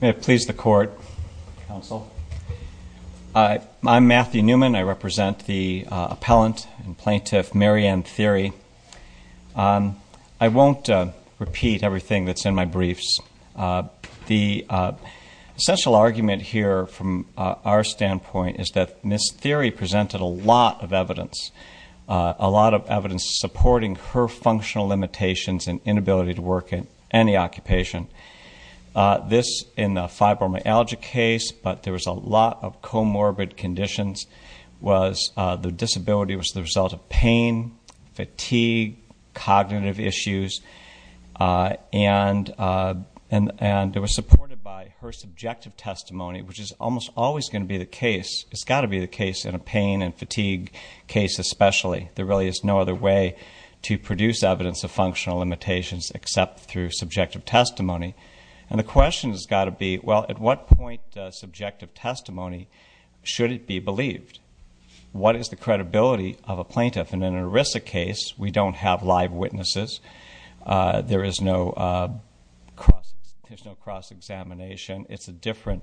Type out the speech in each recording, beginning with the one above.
May it please the court, counsel. I'm Matthew Newman, I represent the appellant and plaintiff Maryanne Thiry. I won't repeat everything that's in my briefs. The essential argument here from our standpoint is that Ms. Thiry presented a lot of evidence, a lot of evidence supporting her functional limitations and inability to work in any occupation. This in the fibromyalgia case, but there was a lot of comorbid conditions, was the disability was the result of pain, fatigue, cognitive issues, and it was supported by her subjective testimony, which is almost always going to be the case. It's got to be the case in a pain and fatigue case especially. There really is no other way to produce evidence of functional limitations except through subjective testimony. And the question has got to be, well at what point does subjective testimony, should it be believed? What is the credibility of a plaintiff? And in an ERISA case, we don't have live witnesses. There is no cross-examination. It's a different,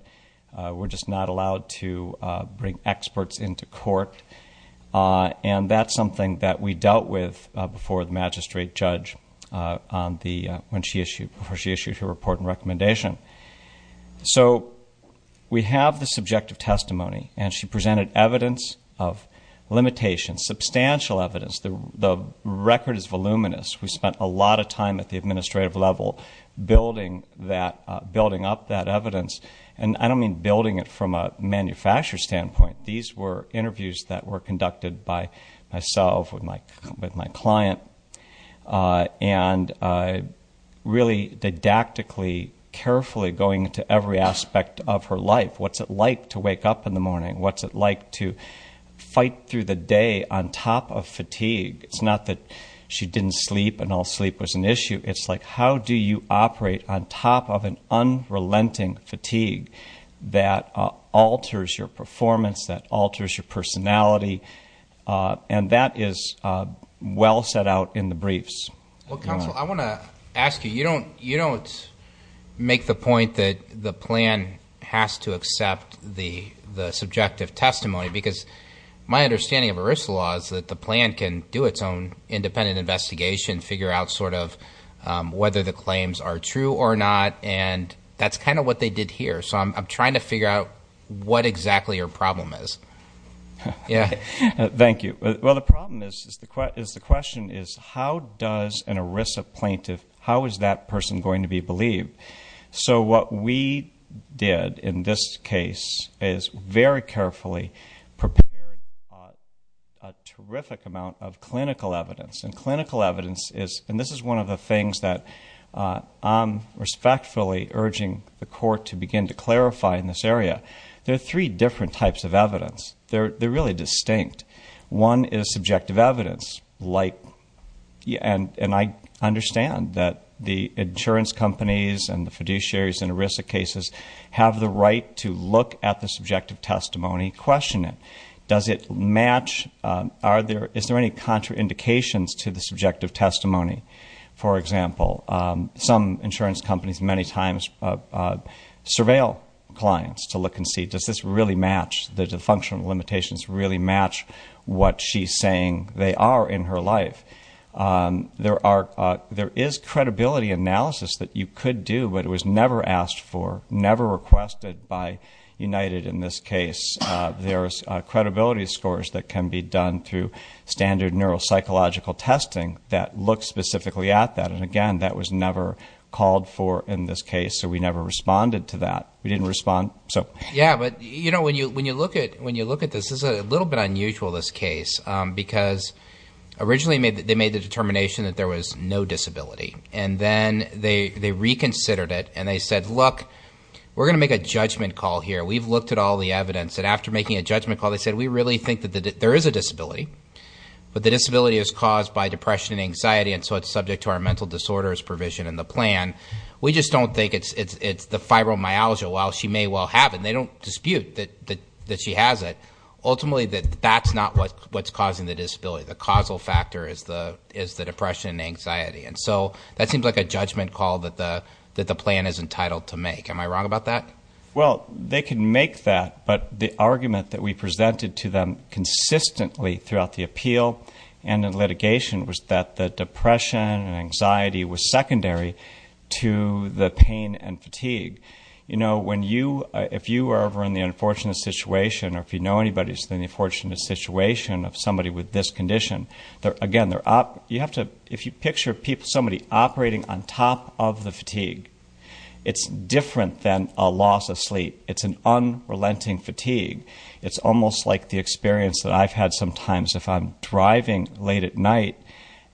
we're just not allowed to bring experts into court. And that's something that we dealt with before the magistrate judge, before she issued her report and recommendation. So we have the subjective testimony and she presented evidence of limitations, substantial evidence. The record is voluminous. We spent a lot of time at the administrative level building up that evidence. And I don't mean building it from a manufacturer standpoint. These were interviews that were conducted by myself with my client. And really didactically, carefully going into every aspect of her life. What's it like to wake up in the morning? What's it like to fight through the day on top of fatigue? It's not that she didn't sleep and all sleep was an issue. It's like how do you operate on top of an unrelenting fatigue that alters your performance, that alters your personality? And that is well set out in the briefs. Well counsel, I want to ask you, you don't make the point that the plan has to accept the subjective testimony. Because my understanding of ERISA law is that the plan can do its own independent investigation, figure out sort of whether the claims are true or not. And that's kind of what they did here. So I'm trying to figure out what exactly your problem is. Yeah. Thank you. Well the problem is the question is how does an ERISA plaintiff, how is that person going to be believed? So what we did in this case is very carefully prepared a terrific amount of clinical evidence. And clinical evidence is, and this is one of the reasons why I'm respectfully urging the court to begin to clarify in this area, there are three different types of evidence. They're really distinct. One is subjective evidence. And I understand that the insurance companies and the fiduciaries in ERISA cases have the right to look at the subjective testimony, question it. Does it match? Are there, is there any contraindications to the subjective testimony? For example, some insurance companies many times surveil clients to look and see, does this really match, does the functional limitations really match what she's saying they are in her life? There are, there is credibility analysis that you could do, but it was never asked for, never requested by United in this case. There's credibility scores that can be tested that look specifically at that. And again, that was never called for in this case, so we never responded to that. We didn't respond, so. Yeah, but you know, when you, when you look at, when you look at this, this is a little bit unusual, this case, because originally made, they made the determination that there was no disability. And then they, they reconsidered it and they said, look, we're going to make a judgment call here. We've looked at all the evidence that after making a judgment call, they said, we really think that there is a disability, but the disability is caused by depression and anxiety, and so it's subject to our mental disorders provision in the plan. We just don't think it's, it's, it's the fibromyalgia. While she may well have it, they don't dispute that, that, that she has it. Ultimately, that, that's not what, what's causing the disability. The causal factor is the, is the depression and anxiety. And so that seems like a judgment call that the, that the plan is entitled to make. Am I wrong about that? Well, they can make that, but the argument that we presented to them consistently throughout the appeal and in litigation was that the depression and anxiety was secondary to the pain and fatigue. You know, when you, if you were ever in the unfortunate situation, or if you know anybody who's in the unfortunate situation of somebody with this condition, they're, again, they're, you have to, if you picture people, somebody operating on top of the fatigue, it's different than a loss of sleep. It's an unrelenting fatigue. It's almost like the experience that I've had sometimes if I'm driving late at night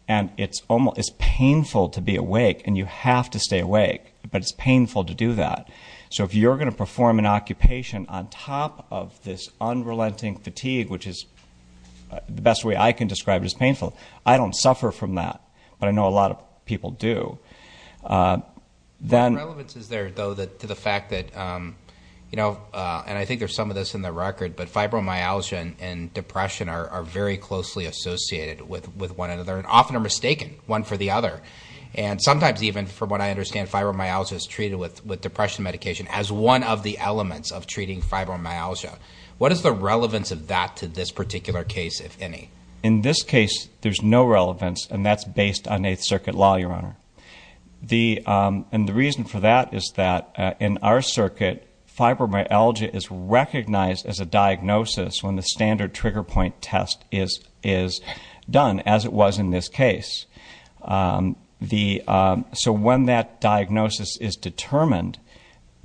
and it's almost, it's painful to be awake and you have to stay awake, but it's painful to do that. So if you're going to perform an occupation on top of this unrelenting fatigue, which is the best way I can describe it as painful, I don't suffer from that. But I know a lot of people do. Then... What relevance is there though that, to the fact that, you know, and I think there's some of this in the record, but fibromyalgia and depression are very closely associated with one another and often are mistaken one for the other. And sometimes even, from what I understand, fibromyalgia is treated with depression medication as one of the elements of treating fibromyalgia. What is the relevance of that to this particular case, if any? In this case, there's no relevance and that's based on Eighth Circuit law, Your Honor. The, and the reason for that is that in our diagnosis, when the standard trigger point test is done, as it was in this case, the, so when that diagnosis is determined,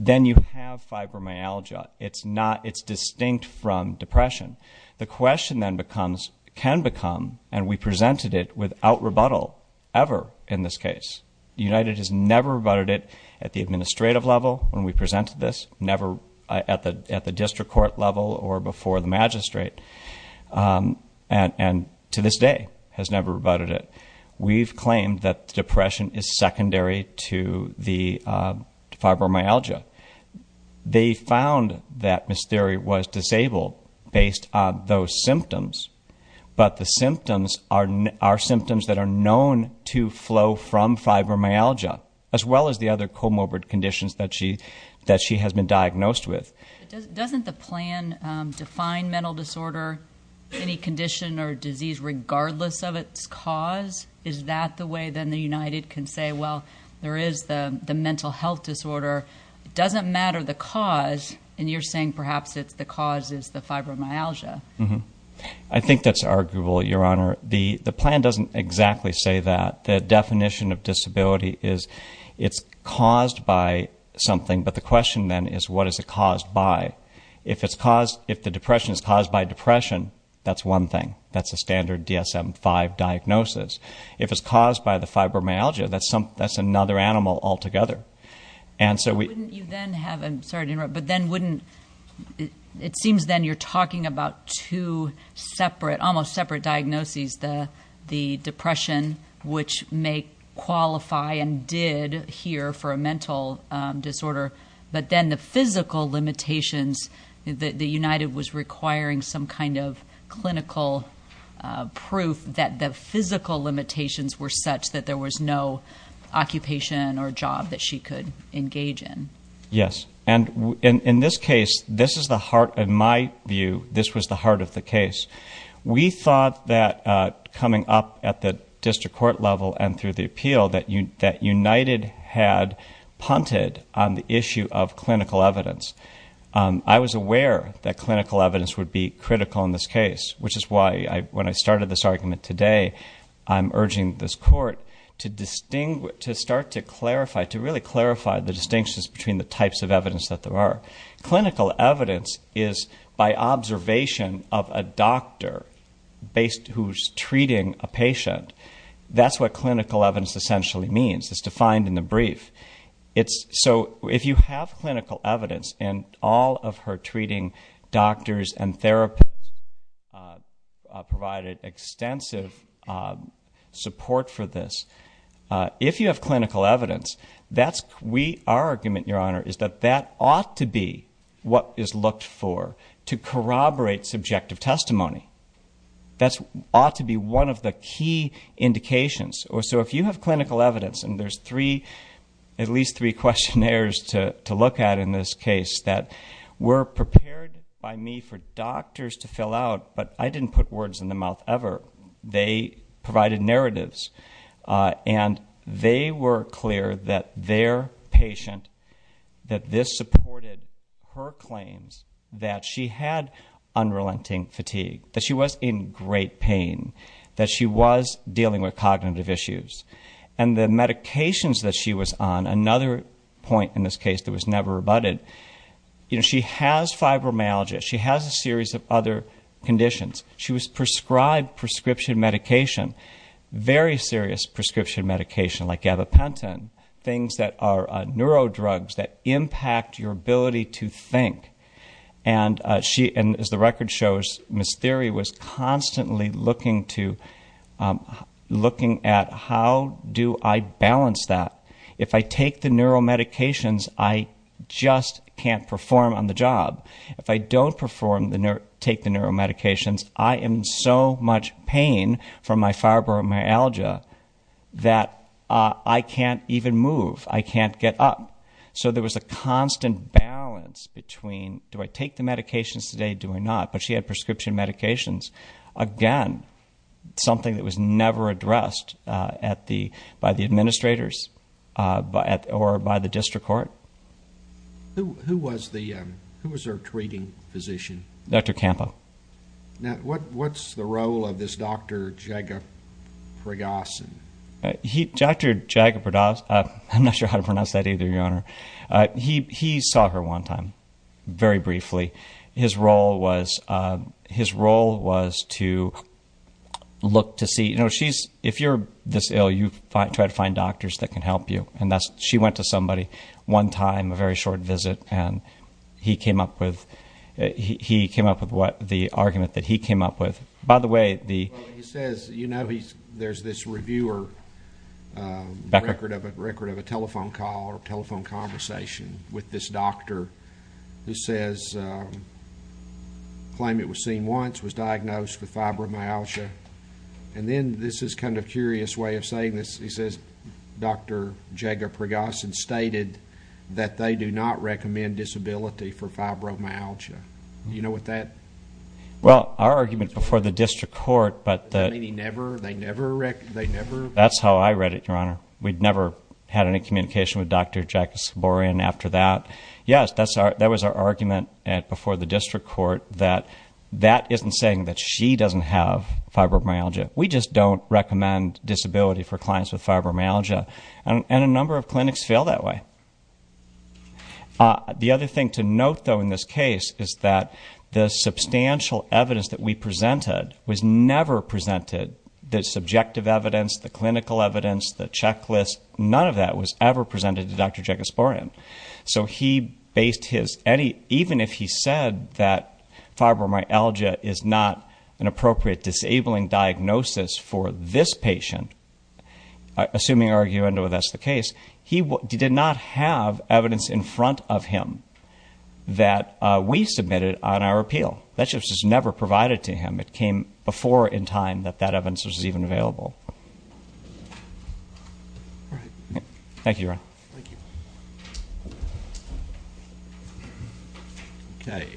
then you have fibromyalgia. It's not, it's distinct from depression. The question then becomes, can become, and we presented it without rebuttal ever in this case. United has never rebutted it at the administrative level when we presented this, never at the, at the before the magistrate, and, and to this day has never rebutted it. We've claimed that the depression is secondary to the fibromyalgia. They found that Ms. Thiry was disabled based on those symptoms, but the symptoms are, are symptoms that are known to flow from fibromyalgia, as well as the other comorbid conditions that Doesn't the plan define mental disorder, any condition or disease regardless of its cause? Is that the way then the United can say, well, there is the, the mental health disorder. It doesn't matter the cause, and you're saying perhaps it's the cause is the fibromyalgia. I think that's arguable, Your Honor. The, the plan doesn't exactly say that. The definition of disability is it's caused by something, but the question then is what is it caused by? If it's caused, if the depression is caused by depression, that's one thing. That's a standard DSM 5 diagnosis. If it's caused by the fibromyalgia, that's some, that's another animal altogether. And so we, you then have, I'm sorry to interrupt, but then wouldn't, it seems then you're talking about two separate, almost separate diagnoses, the, the depression, which may qualify and did here for a mental disorder, but then the physical limitations that the United was requiring some kind of clinical proof that the physical limitations were such that there was no occupation or job that she could engage in. Yes. And in, in this case, this is the heart, in my view, this was the heart of the case. We thought that coming up at the district court level and through the appeal that you, that United had punted on the issue of clinical evidence. I was aware that clinical evidence would be critical in this case, which is why I, when I started this argument today, I'm urging this court to distinguish, to start to clarify, to really clarify the distinctions between the types of evidence that there are. Clinical evidence is by observation of a doctor based, who's treating a patient. That's what clinical evidence essentially means. It's defined in the brief. It's, so if you have clinical evidence and all of her treating doctors and therapists provided extensive support for this, if you have clinical evidence, that's we, our argument, your honor, is that that ought to be what is looked for to corroborate subjective testimony. That's ought to be one of the key indications or so if you have clinical evidence and there's three, at least three questionnaires to look at in this case that were prepared by me for doctors to fill out, but I didn't put words in the mouth ever. They provided narratives and they were clear that their patient, that this supported her claims that she had unrelenting fatigue, that she was in great pain, that she was dealing with cognitive issues and the medications that she was on, another point in this case that was never rebutted, you know, she has fibromyalgia, she has a prescription medication, very serious prescription medication like gabapentin, things that are neuro drugs that impact your ability to think and she, as the record shows, Ms. Thiry was constantly looking to, looking at how do I balance that. If I take the neuromedications, I just can't perform on the job. If I don't perform, take the neuromedications, I am in so much pain from my fibromyalgia that I can't even move. I can't get up. So there was a constant balance between do I take the medications today, do I not, but she had prescription medications. Again, something that was never addressed by the administrators or by the district court. Who was the, who was her treating physician? Dr. Campo. Now, what's the role of this Dr. Jagapraghasan? Dr. Jagapraghasan, I'm not sure how to pronounce that either, your honor. He saw her one time, very briefly. His role was, his role was to look to see, you know, she's, if you're this ill, you try to find doctors that can help you and that's, she went to somebody one time, a very short visit, and he came up with, he came up with what, the argument that he came up with. By the way, the... Well, he says, you know, there's this reviewer record of a telephone call or telephone conversation with this doctor who says, claimed it was seen once, was diagnosed with fibromyalgia. And then, this is kind of curious way of saying this, he says, that Dr. Jagapraghasan stated that they do not recommend disability for fibromyalgia. You know what that... Well, our argument before the district court, but that... Meaning never, they never, they never... That's how I read it, your honor. We'd never had any communication with Dr. Jackis-Saborian after that. Yes, that was our argument before the district court that that isn't saying that she doesn't have fibromyalgia. We just don't recommend disability for clients with fibromyalgia. And a number of clinics fail that way. The other thing to note, though, in this case is that the substantial evidence that we presented was never presented, the subjective evidence, the clinical evidence, the checklist, none of that was ever presented to Dr. Jackis-Saborian. So he based his, even if he said that fibromyalgia is not an appropriate disabling diagnosis for this patient, assuming arguably that's the case, he did not have evidence in front of him that we submitted on our appeal. That just was never provided to him. It came before in time that that evidence was even available. Thank you, your honor. Thank you. Okay,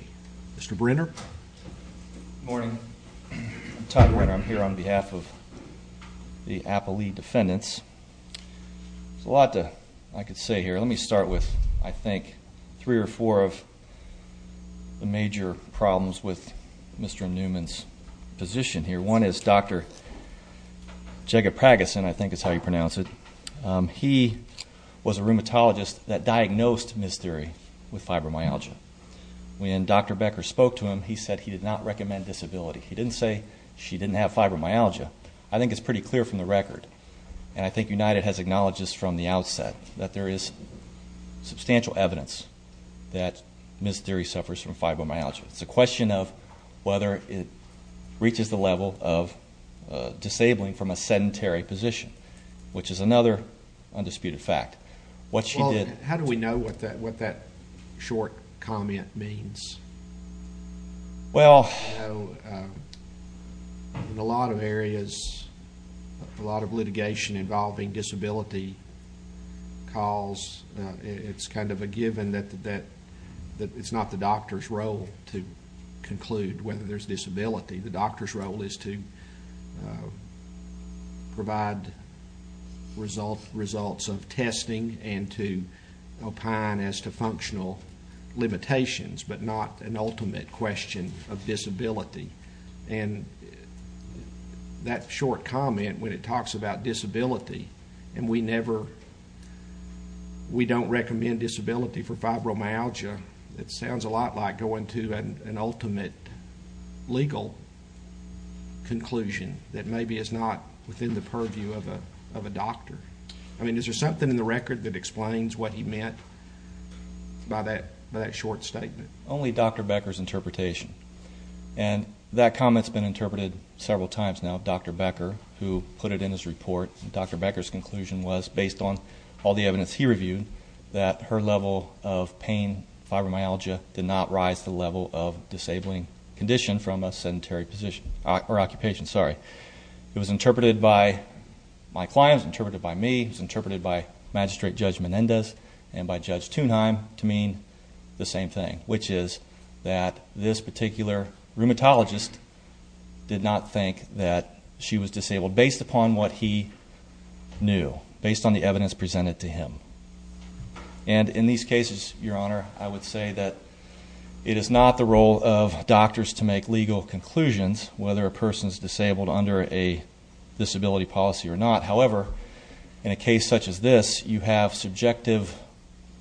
Mr. Brenner. Good morning. I'm Todd Brenner. I'm here on behalf of the Appalee defendants. There's a lot I could say here. Let me start with, I think, three or four of the major problems with Mr. Newman's position here. One is Dr. Jagatpragasin, I think is how you pronounce it. He was a rheumatologist that diagnosed Ms. Dheeri with fibromyalgia. When Dr. Becker spoke to him, he said he did not recommend disability. He didn't say she didn't have fibromyalgia. I think it's pretty clear from the record, and I think United has acknowledged this from the outset, that there is substantial evidence that Ms. Dheeri suffers from fibromyalgia. It's a question of whether it reaches the level of disabling from a sedentary position, which is another undisputed fact. What she did- How do we know what that short comment means? In a lot of areas, a lot of litigation involving disability calls, it's kind of a given that it's not the doctor's role to conclude whether there's disability. The doctor's role is to provide results of testing and to opine as to functional limitations, but not an ultimate question of disability. That short comment, when it talks about disability, and we don't recommend disability for fibromyalgia, it is a legal conclusion that maybe is not within the purview of a doctor. Is there something in the record that explains what he meant by that short statement? Only Dr. Becker's interpretation, and that comment's been interpreted several times now of Dr. Becker, who put it in his report. Dr. Becker's conclusion was, based on all the evidence he reviewed, that her level of pain, fibromyalgia, did not rise to the level of a disabling condition from a sedentary position, or occupation, sorry. It was interpreted by my client, it was interpreted by me, it was interpreted by Magistrate Judge Menendez and by Judge Thunheim to mean the same thing, which is that this particular rheumatologist did not think that she was disabled based upon what he knew, based on the evidence presented to him. And in these cases, Your Honor, I would say that it is not the role of doctors to make legal conclusions, whether a person is disabled under a disability policy or not. However, in a case such as this, you have subjective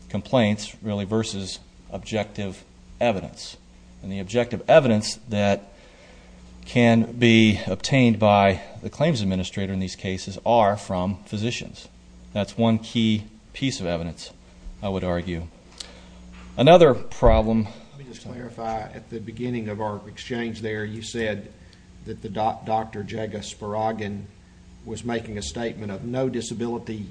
complaints, really, versus objective evidence. And the objective evidence that can be obtained by the claims administrator in these cases are from physicians. That's one key piece of evidence, I would argue. Another problem. Let me just clarify, at the beginning of our exchange there, you said that Dr. Jaga Sparogin was making a statement of no disability,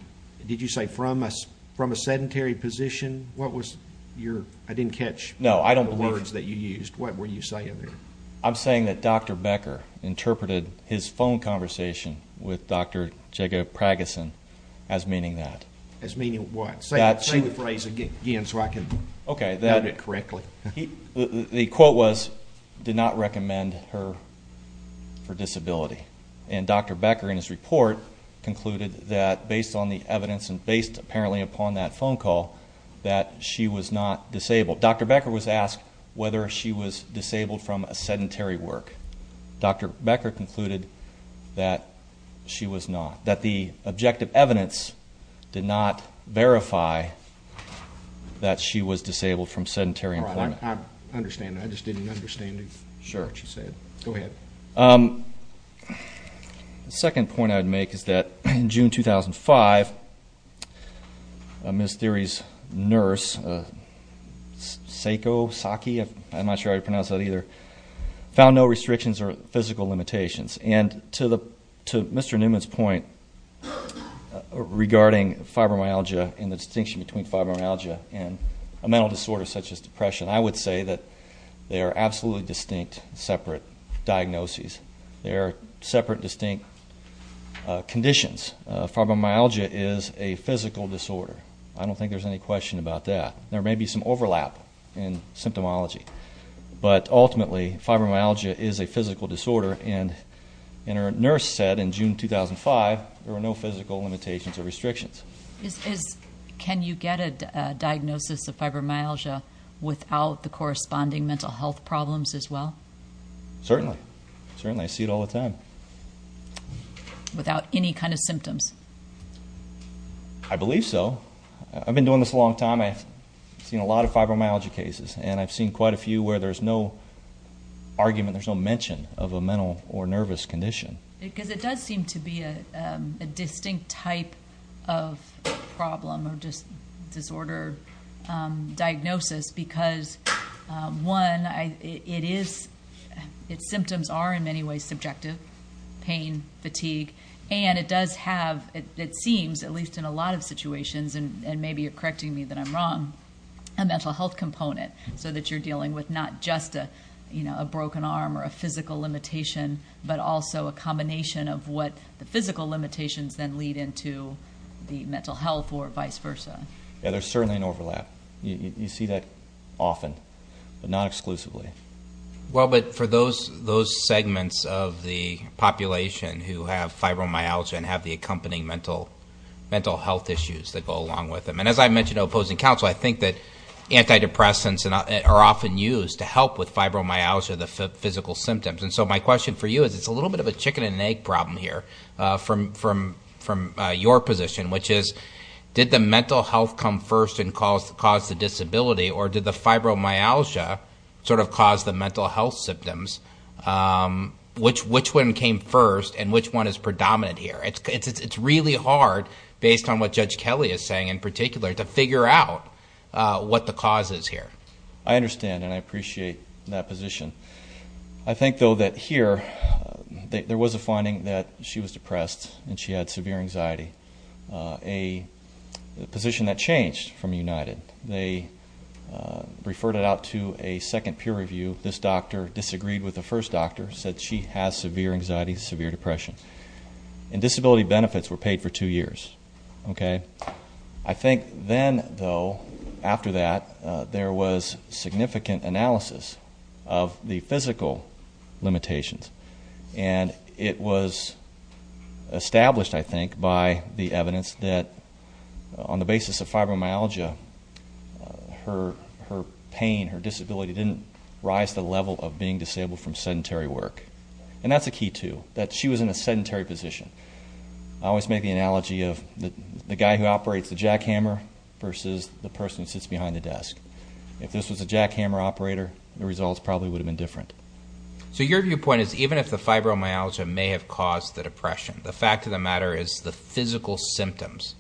did you say from a sedentary position? What was your, I didn't catch the words that you used, what were you saying there? I'm saying that Dr. Becker interpreted his phone conversation with Dr. Jaga Sparogin as meaning that. As meaning what? Say the phrase again so I can note it correctly. The quote was, did not recommend her for disability. And Dr. Becker in his report concluded that based on the evidence and based apparently upon that phone call, that she was not disabled. Dr. Becker was asked whether she was disabled from a sedentary work. Dr. Becker concluded that she was not. That the objective evidence did not verify that she was disabled from sedentary employment. I understand that, I just didn't understand what you said. Go ahead. The second point I would make is that in the case of Sako, I'm not sure how to pronounce that either, found no restrictions or physical limitations. And to Mr. Newman's point regarding fibromyalgia and the distinction between fibromyalgia and a mental disorder such as depression, I would say that they are absolutely distinct separate diagnoses. They are separate distinct conditions. Fibromyalgia is a physical disorder. I don't think there's any question about that. There may be some overlap in symptomology. But ultimately, fibromyalgia is a physical disorder and our nurse said in June 2005, there were no physical limitations or restrictions. Can you get a diagnosis of fibromyalgia without the corresponding mental health problems as well? Certainly. Certainly. I see it all the time. Without any kind of symptoms? I believe so. I've been doing this a long time. I've seen a lot of fibromyalgia cases and I've seen quite a few where there's no argument, there's no mention of a mental or nervous condition. Because it does seem to be a distinct type of problem or just disorder diagnosis because one, it is, its symptoms are in many ways subjective, pain, fatigue. And it does have, it seems, at least in a lot of situations and maybe you're correcting me that I'm wrong, a mental health component so that you're dealing with not just a broken arm or a physical limitation, but also a combination of what the physical limitations then lead into the mental health or vice versa. Yeah, there's certainly an overlap. You see that often, but not exclusively. Well, but for those segments of the population who have fibromyalgia and have the accompanying mental health issues that go along with them. And as I mentioned to opposing counsel, I think that antidepressants are often used to help with fibromyalgia, the physical symptoms. And so my question for you is, it's a little bit of a chicken and egg problem here from your position, which is, did the mental health come first and cause the disability or did the fibromyalgia sort of cause the mental health symptoms? Which one came first and which one is predominant here? It's really hard, based on what Judge Kelly is saying in particular, to figure out what the cause is here. I understand and I appreciate that position. I think though that here, there was a finding that she was depressed and she had severe anxiety, a position that changed from United. They referred it out to a second peer review. This doctor disagreed with the first doctor, said she has severe anxiety, severe depression. And disability benefits were paid for two years, okay? I think then though, after that, there was significant analysis of the physical limitations. And it was established, I think, by the evidence that on the basis of fibromyalgia, her pain, her disability didn't rise to the level of being disabled from sedentary work. And that's a key too, that she was in a sedentary position. I always make the analogy of the guy who operates the jackhammer versus the person who sits behind the desk. If this was a jackhammer operator, the results probably would have been different. So your viewpoint is even if the fibromyalgia may have caused the depression, the fact of the matter is the physical symptoms,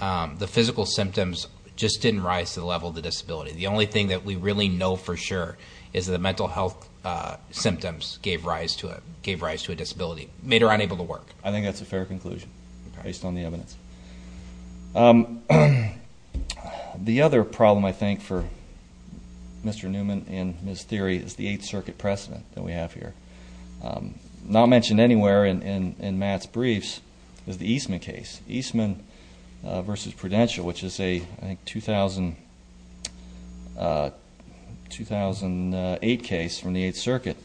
the physical symptoms just didn't rise to the level of the disability. The only thing that we really know for sure is that the mental health symptoms gave rise to a disability, made her unable to work. I think that's a fair conclusion, based on the evidence. The other problem, I think, for Mr. Newman and Ms. Theory is the Eighth Circuit precedent that we have here. Not mentioned anywhere in Matt's briefs is the Eastman case, Eastman versus Prudential, which is a 2008 case from the Eighth Circuit.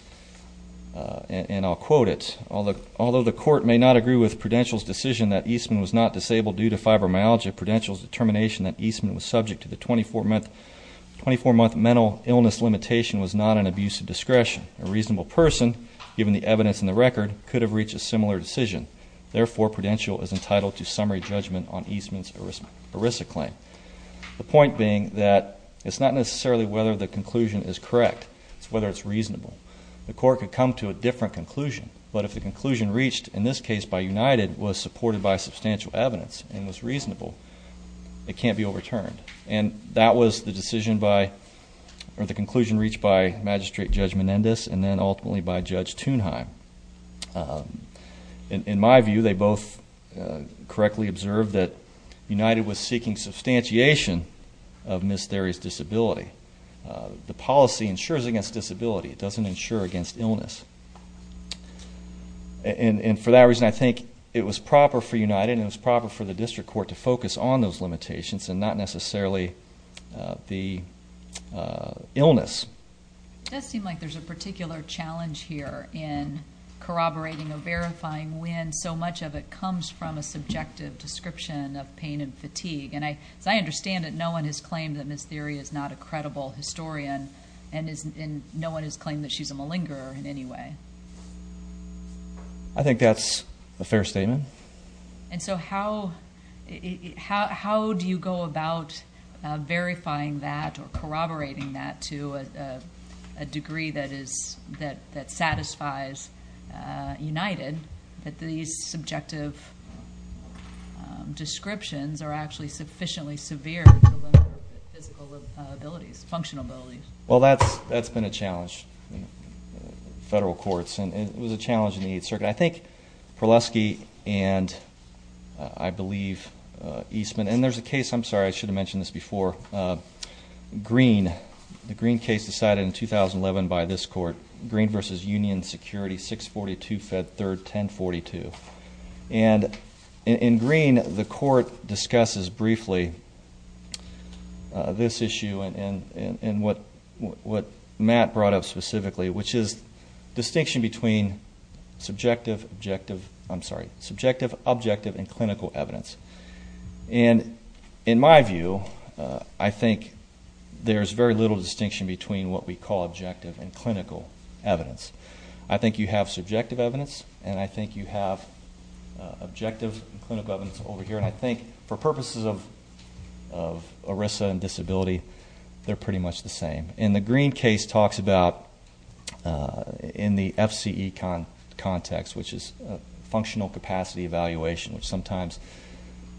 And I'll quote it, although the court may not agree with Prudential's decision that Eastman was not disabled due to fibromyalgia, Prudential's determination that Eastman was subject to the 24-month mental illness limitation was not an abuse of discretion. A reasonable person, given the evidence in the record, could have reached a similar decision. Therefore, Prudential is entitled to summary judgment on Eastman's ERISA claim. The point being that it's not necessarily whether the conclusion is correct, it's whether it's reasonable. The court could come to a different conclusion, but if the conclusion reached, in this case by United, was supported by substantial evidence and was reasonable, it can't be overturned. And that was the conclusion reached by Magistrate Judge Menendez and then ultimately by Judge Thunheim. In my view, they both correctly observed that United was seeking substantiation of Ms. Theory's disability. The policy ensures against disability. It doesn't ensure against illness. And for that reason, I think it was proper for United and it was proper for the district court to focus on those limitations and not necessarily the illness. It does seem like there's a particular challenge here in corroborating or verifying when so much of it comes from a subjective description of pain and fatigue. And as I understand it, no one has claimed that Ms. Theory is not a credible historian and no one has claimed that she's a malingerer in any way. I think that's a fair statement. And so how do you go about verifying that or corroborating that to a degree that satisfies United that these subjective descriptions are actually sufficiently severe to limit her physical abilities, functional abilities? Well, that's been a challenge in federal courts and it was a challenge in the 8th Circuit. I think Prelusky and I believe Eastman, and there's a case, I'm sorry, I should have mentioned this before, Green, the Green case decided in 2011 by this court, Green v. Union Security, 642 Fed 3rd, 1042. And in Green, the court discusses briefly this issue and what Matt brought up specifically, which is distinction between subjective, objective, I'm sorry, subjective, objective, and clinical evidence. And in my view, I think there's very little distinction between what we call objective and clinical evidence over here. And I think for purposes of ERISA and disability, they're pretty much the same. And the Green case talks about, in the FCE context, which is functional capacity evaluation, which sometimes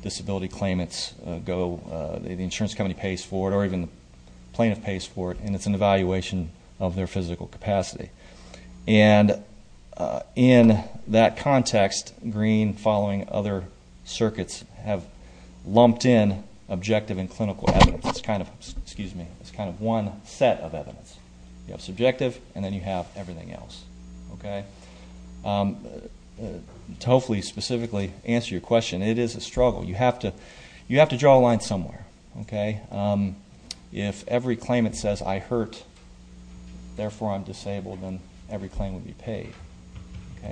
disability claimants go, the insurance company pays for it or even the plaintiff pays for it, and it's an evaluation of their physical capacity. And in that context, Green, following other circuits, have lumped in objective and clinical evidence. It's kind of, excuse me, it's kind of one set of evidence. You have subjective and then you have everything else. To hopefully specifically answer your question, it is a struggle. You have to draw a line somewhere. If every claimant says, I hurt, therefore, I'm disabled, then every claim would be paid.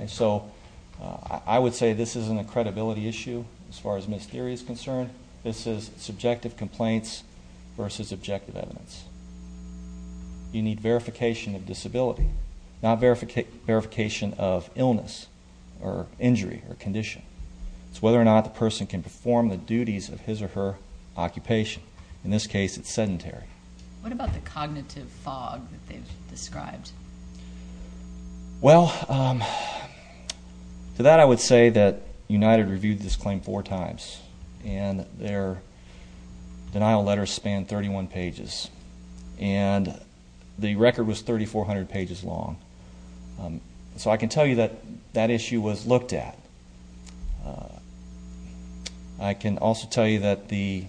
So I would say this isn't a credibility issue as far as missed theory is concerned. This is subjective complaints versus objective evidence. You need verification of disability, not verification of illness or injury or condition. It's whether or not the person can perform the duties of his or her occupation. In this case, it's sedentary. What about the cognitive fog that they've described? Well, to that I would say that United reviewed this claim four times and their denial letters spanned 31 pages. And the record was 3,400 pages long. So I can also tell you that the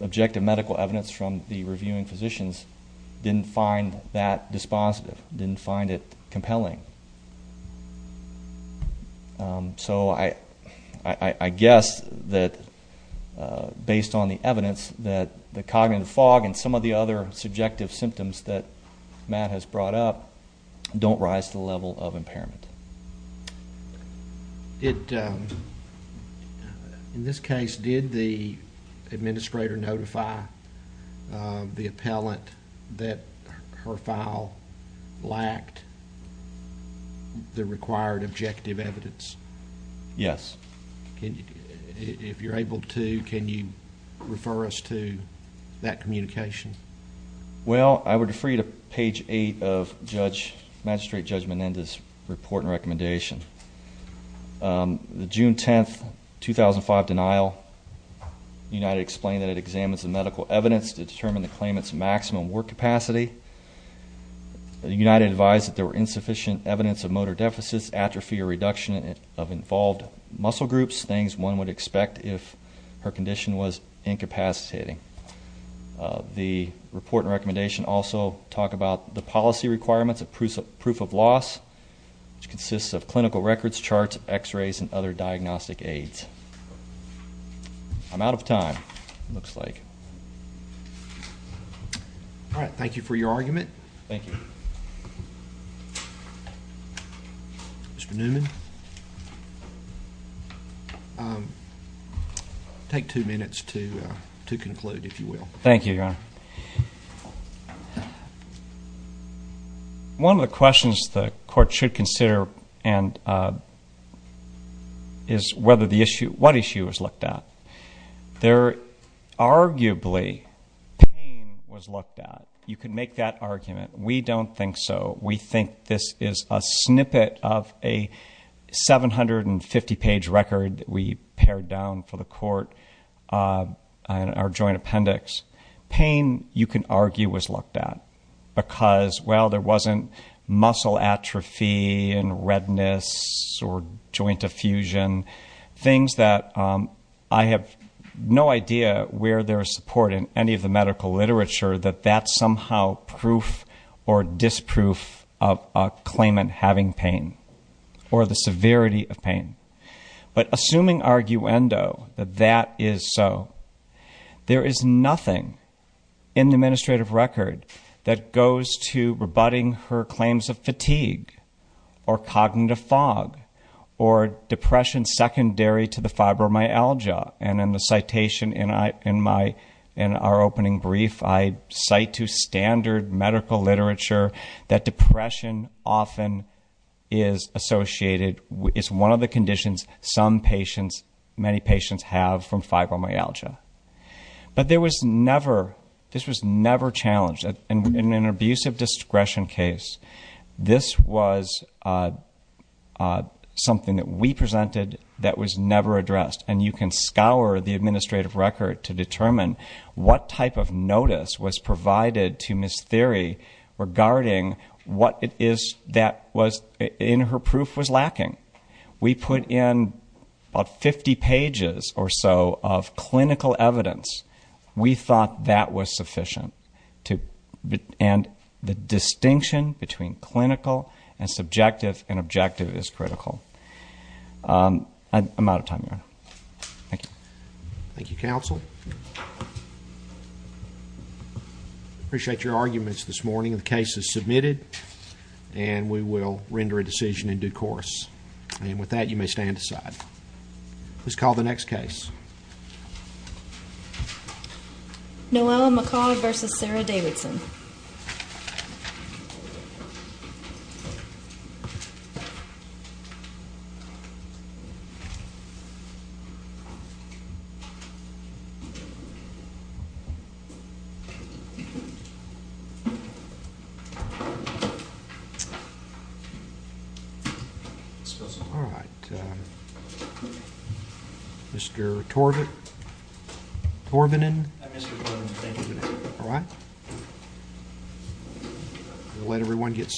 objective medical evidence from the reviewing physicians didn't find that dispositive, didn't find it compelling. So I guess that based on the evidence that the cognitive fog and some of the other subjective symptoms that Matt has brought up don't rise to the level of impairment. In this case, did the administrator notify the appellant that her file lacked the required objective evidence? Yes. If you're able to, can you refer us to that communication? Well, I would refer you to page eight of magistrate judge Menendez's report and recommendation. The June 10, 2005 denial, United explained that it examines the medical evidence to determine the claimant's maximum work capacity. United advised that there were insufficient evidence of motor deficits, atrophy or reduction of involved muscle groups, things one would expect if her condition was incapacitating. The report and recommendation also talk about the policy requirements of proof of loss, which consists of clinical records, charts, x-rays and other diagnostic aids. I'm out of time, it looks like. All right. Thank you for your argument. Thank you. Mr. Newman. Take two minutes to answer. One of the questions the court should consider is what issue was looked at. Arguably pain was looked at. You can make that argument. We don't think so. We think this is a snippet of a 750 page record that we pared down for the court in our joint appendix. Pain, you can argue, was looked at because, well, there wasn't muscle atrophy and redness or joint effusion, things that I have no idea where there's support in any of the medical literature that that's somehow proof or disproof of a claimant having pain or the severity of pain. But assuming arguendo that that is so, there is nothing in the administrative record that goes to rebutting her claims of fatigue or cognitive fog or depression secondary to the fibromyalgia. And in the citation in our opening brief, I cite to standard medical literature that depression often is associated, is one of the conditions some patients, many patients have from fibromyalgia. But there was never, this was never challenged. In an abusive discretion case, this was something that we presented that was never addressed. And you can scour the administrative record to determine what type of notice was provided to Ms. Thierry regarding what it is that was in her proof was lacking. We put in about 50 pages or so of clinical evidence. We thought that was sufficient. And the distinction between clinical and subjective and objective is critical. I'm out of time, Your Honor. Thank you. Thank you, Counsel. Appreciate your arguments this morning. The case is submitted and we will render a decision in due course. And with that, you may stand aside. Please call the next case. Noelle McCaw v. Sarah Davidson. Alright. Mr. McCaw. Mr. Torbenen. Alright. We'll let everyone get set.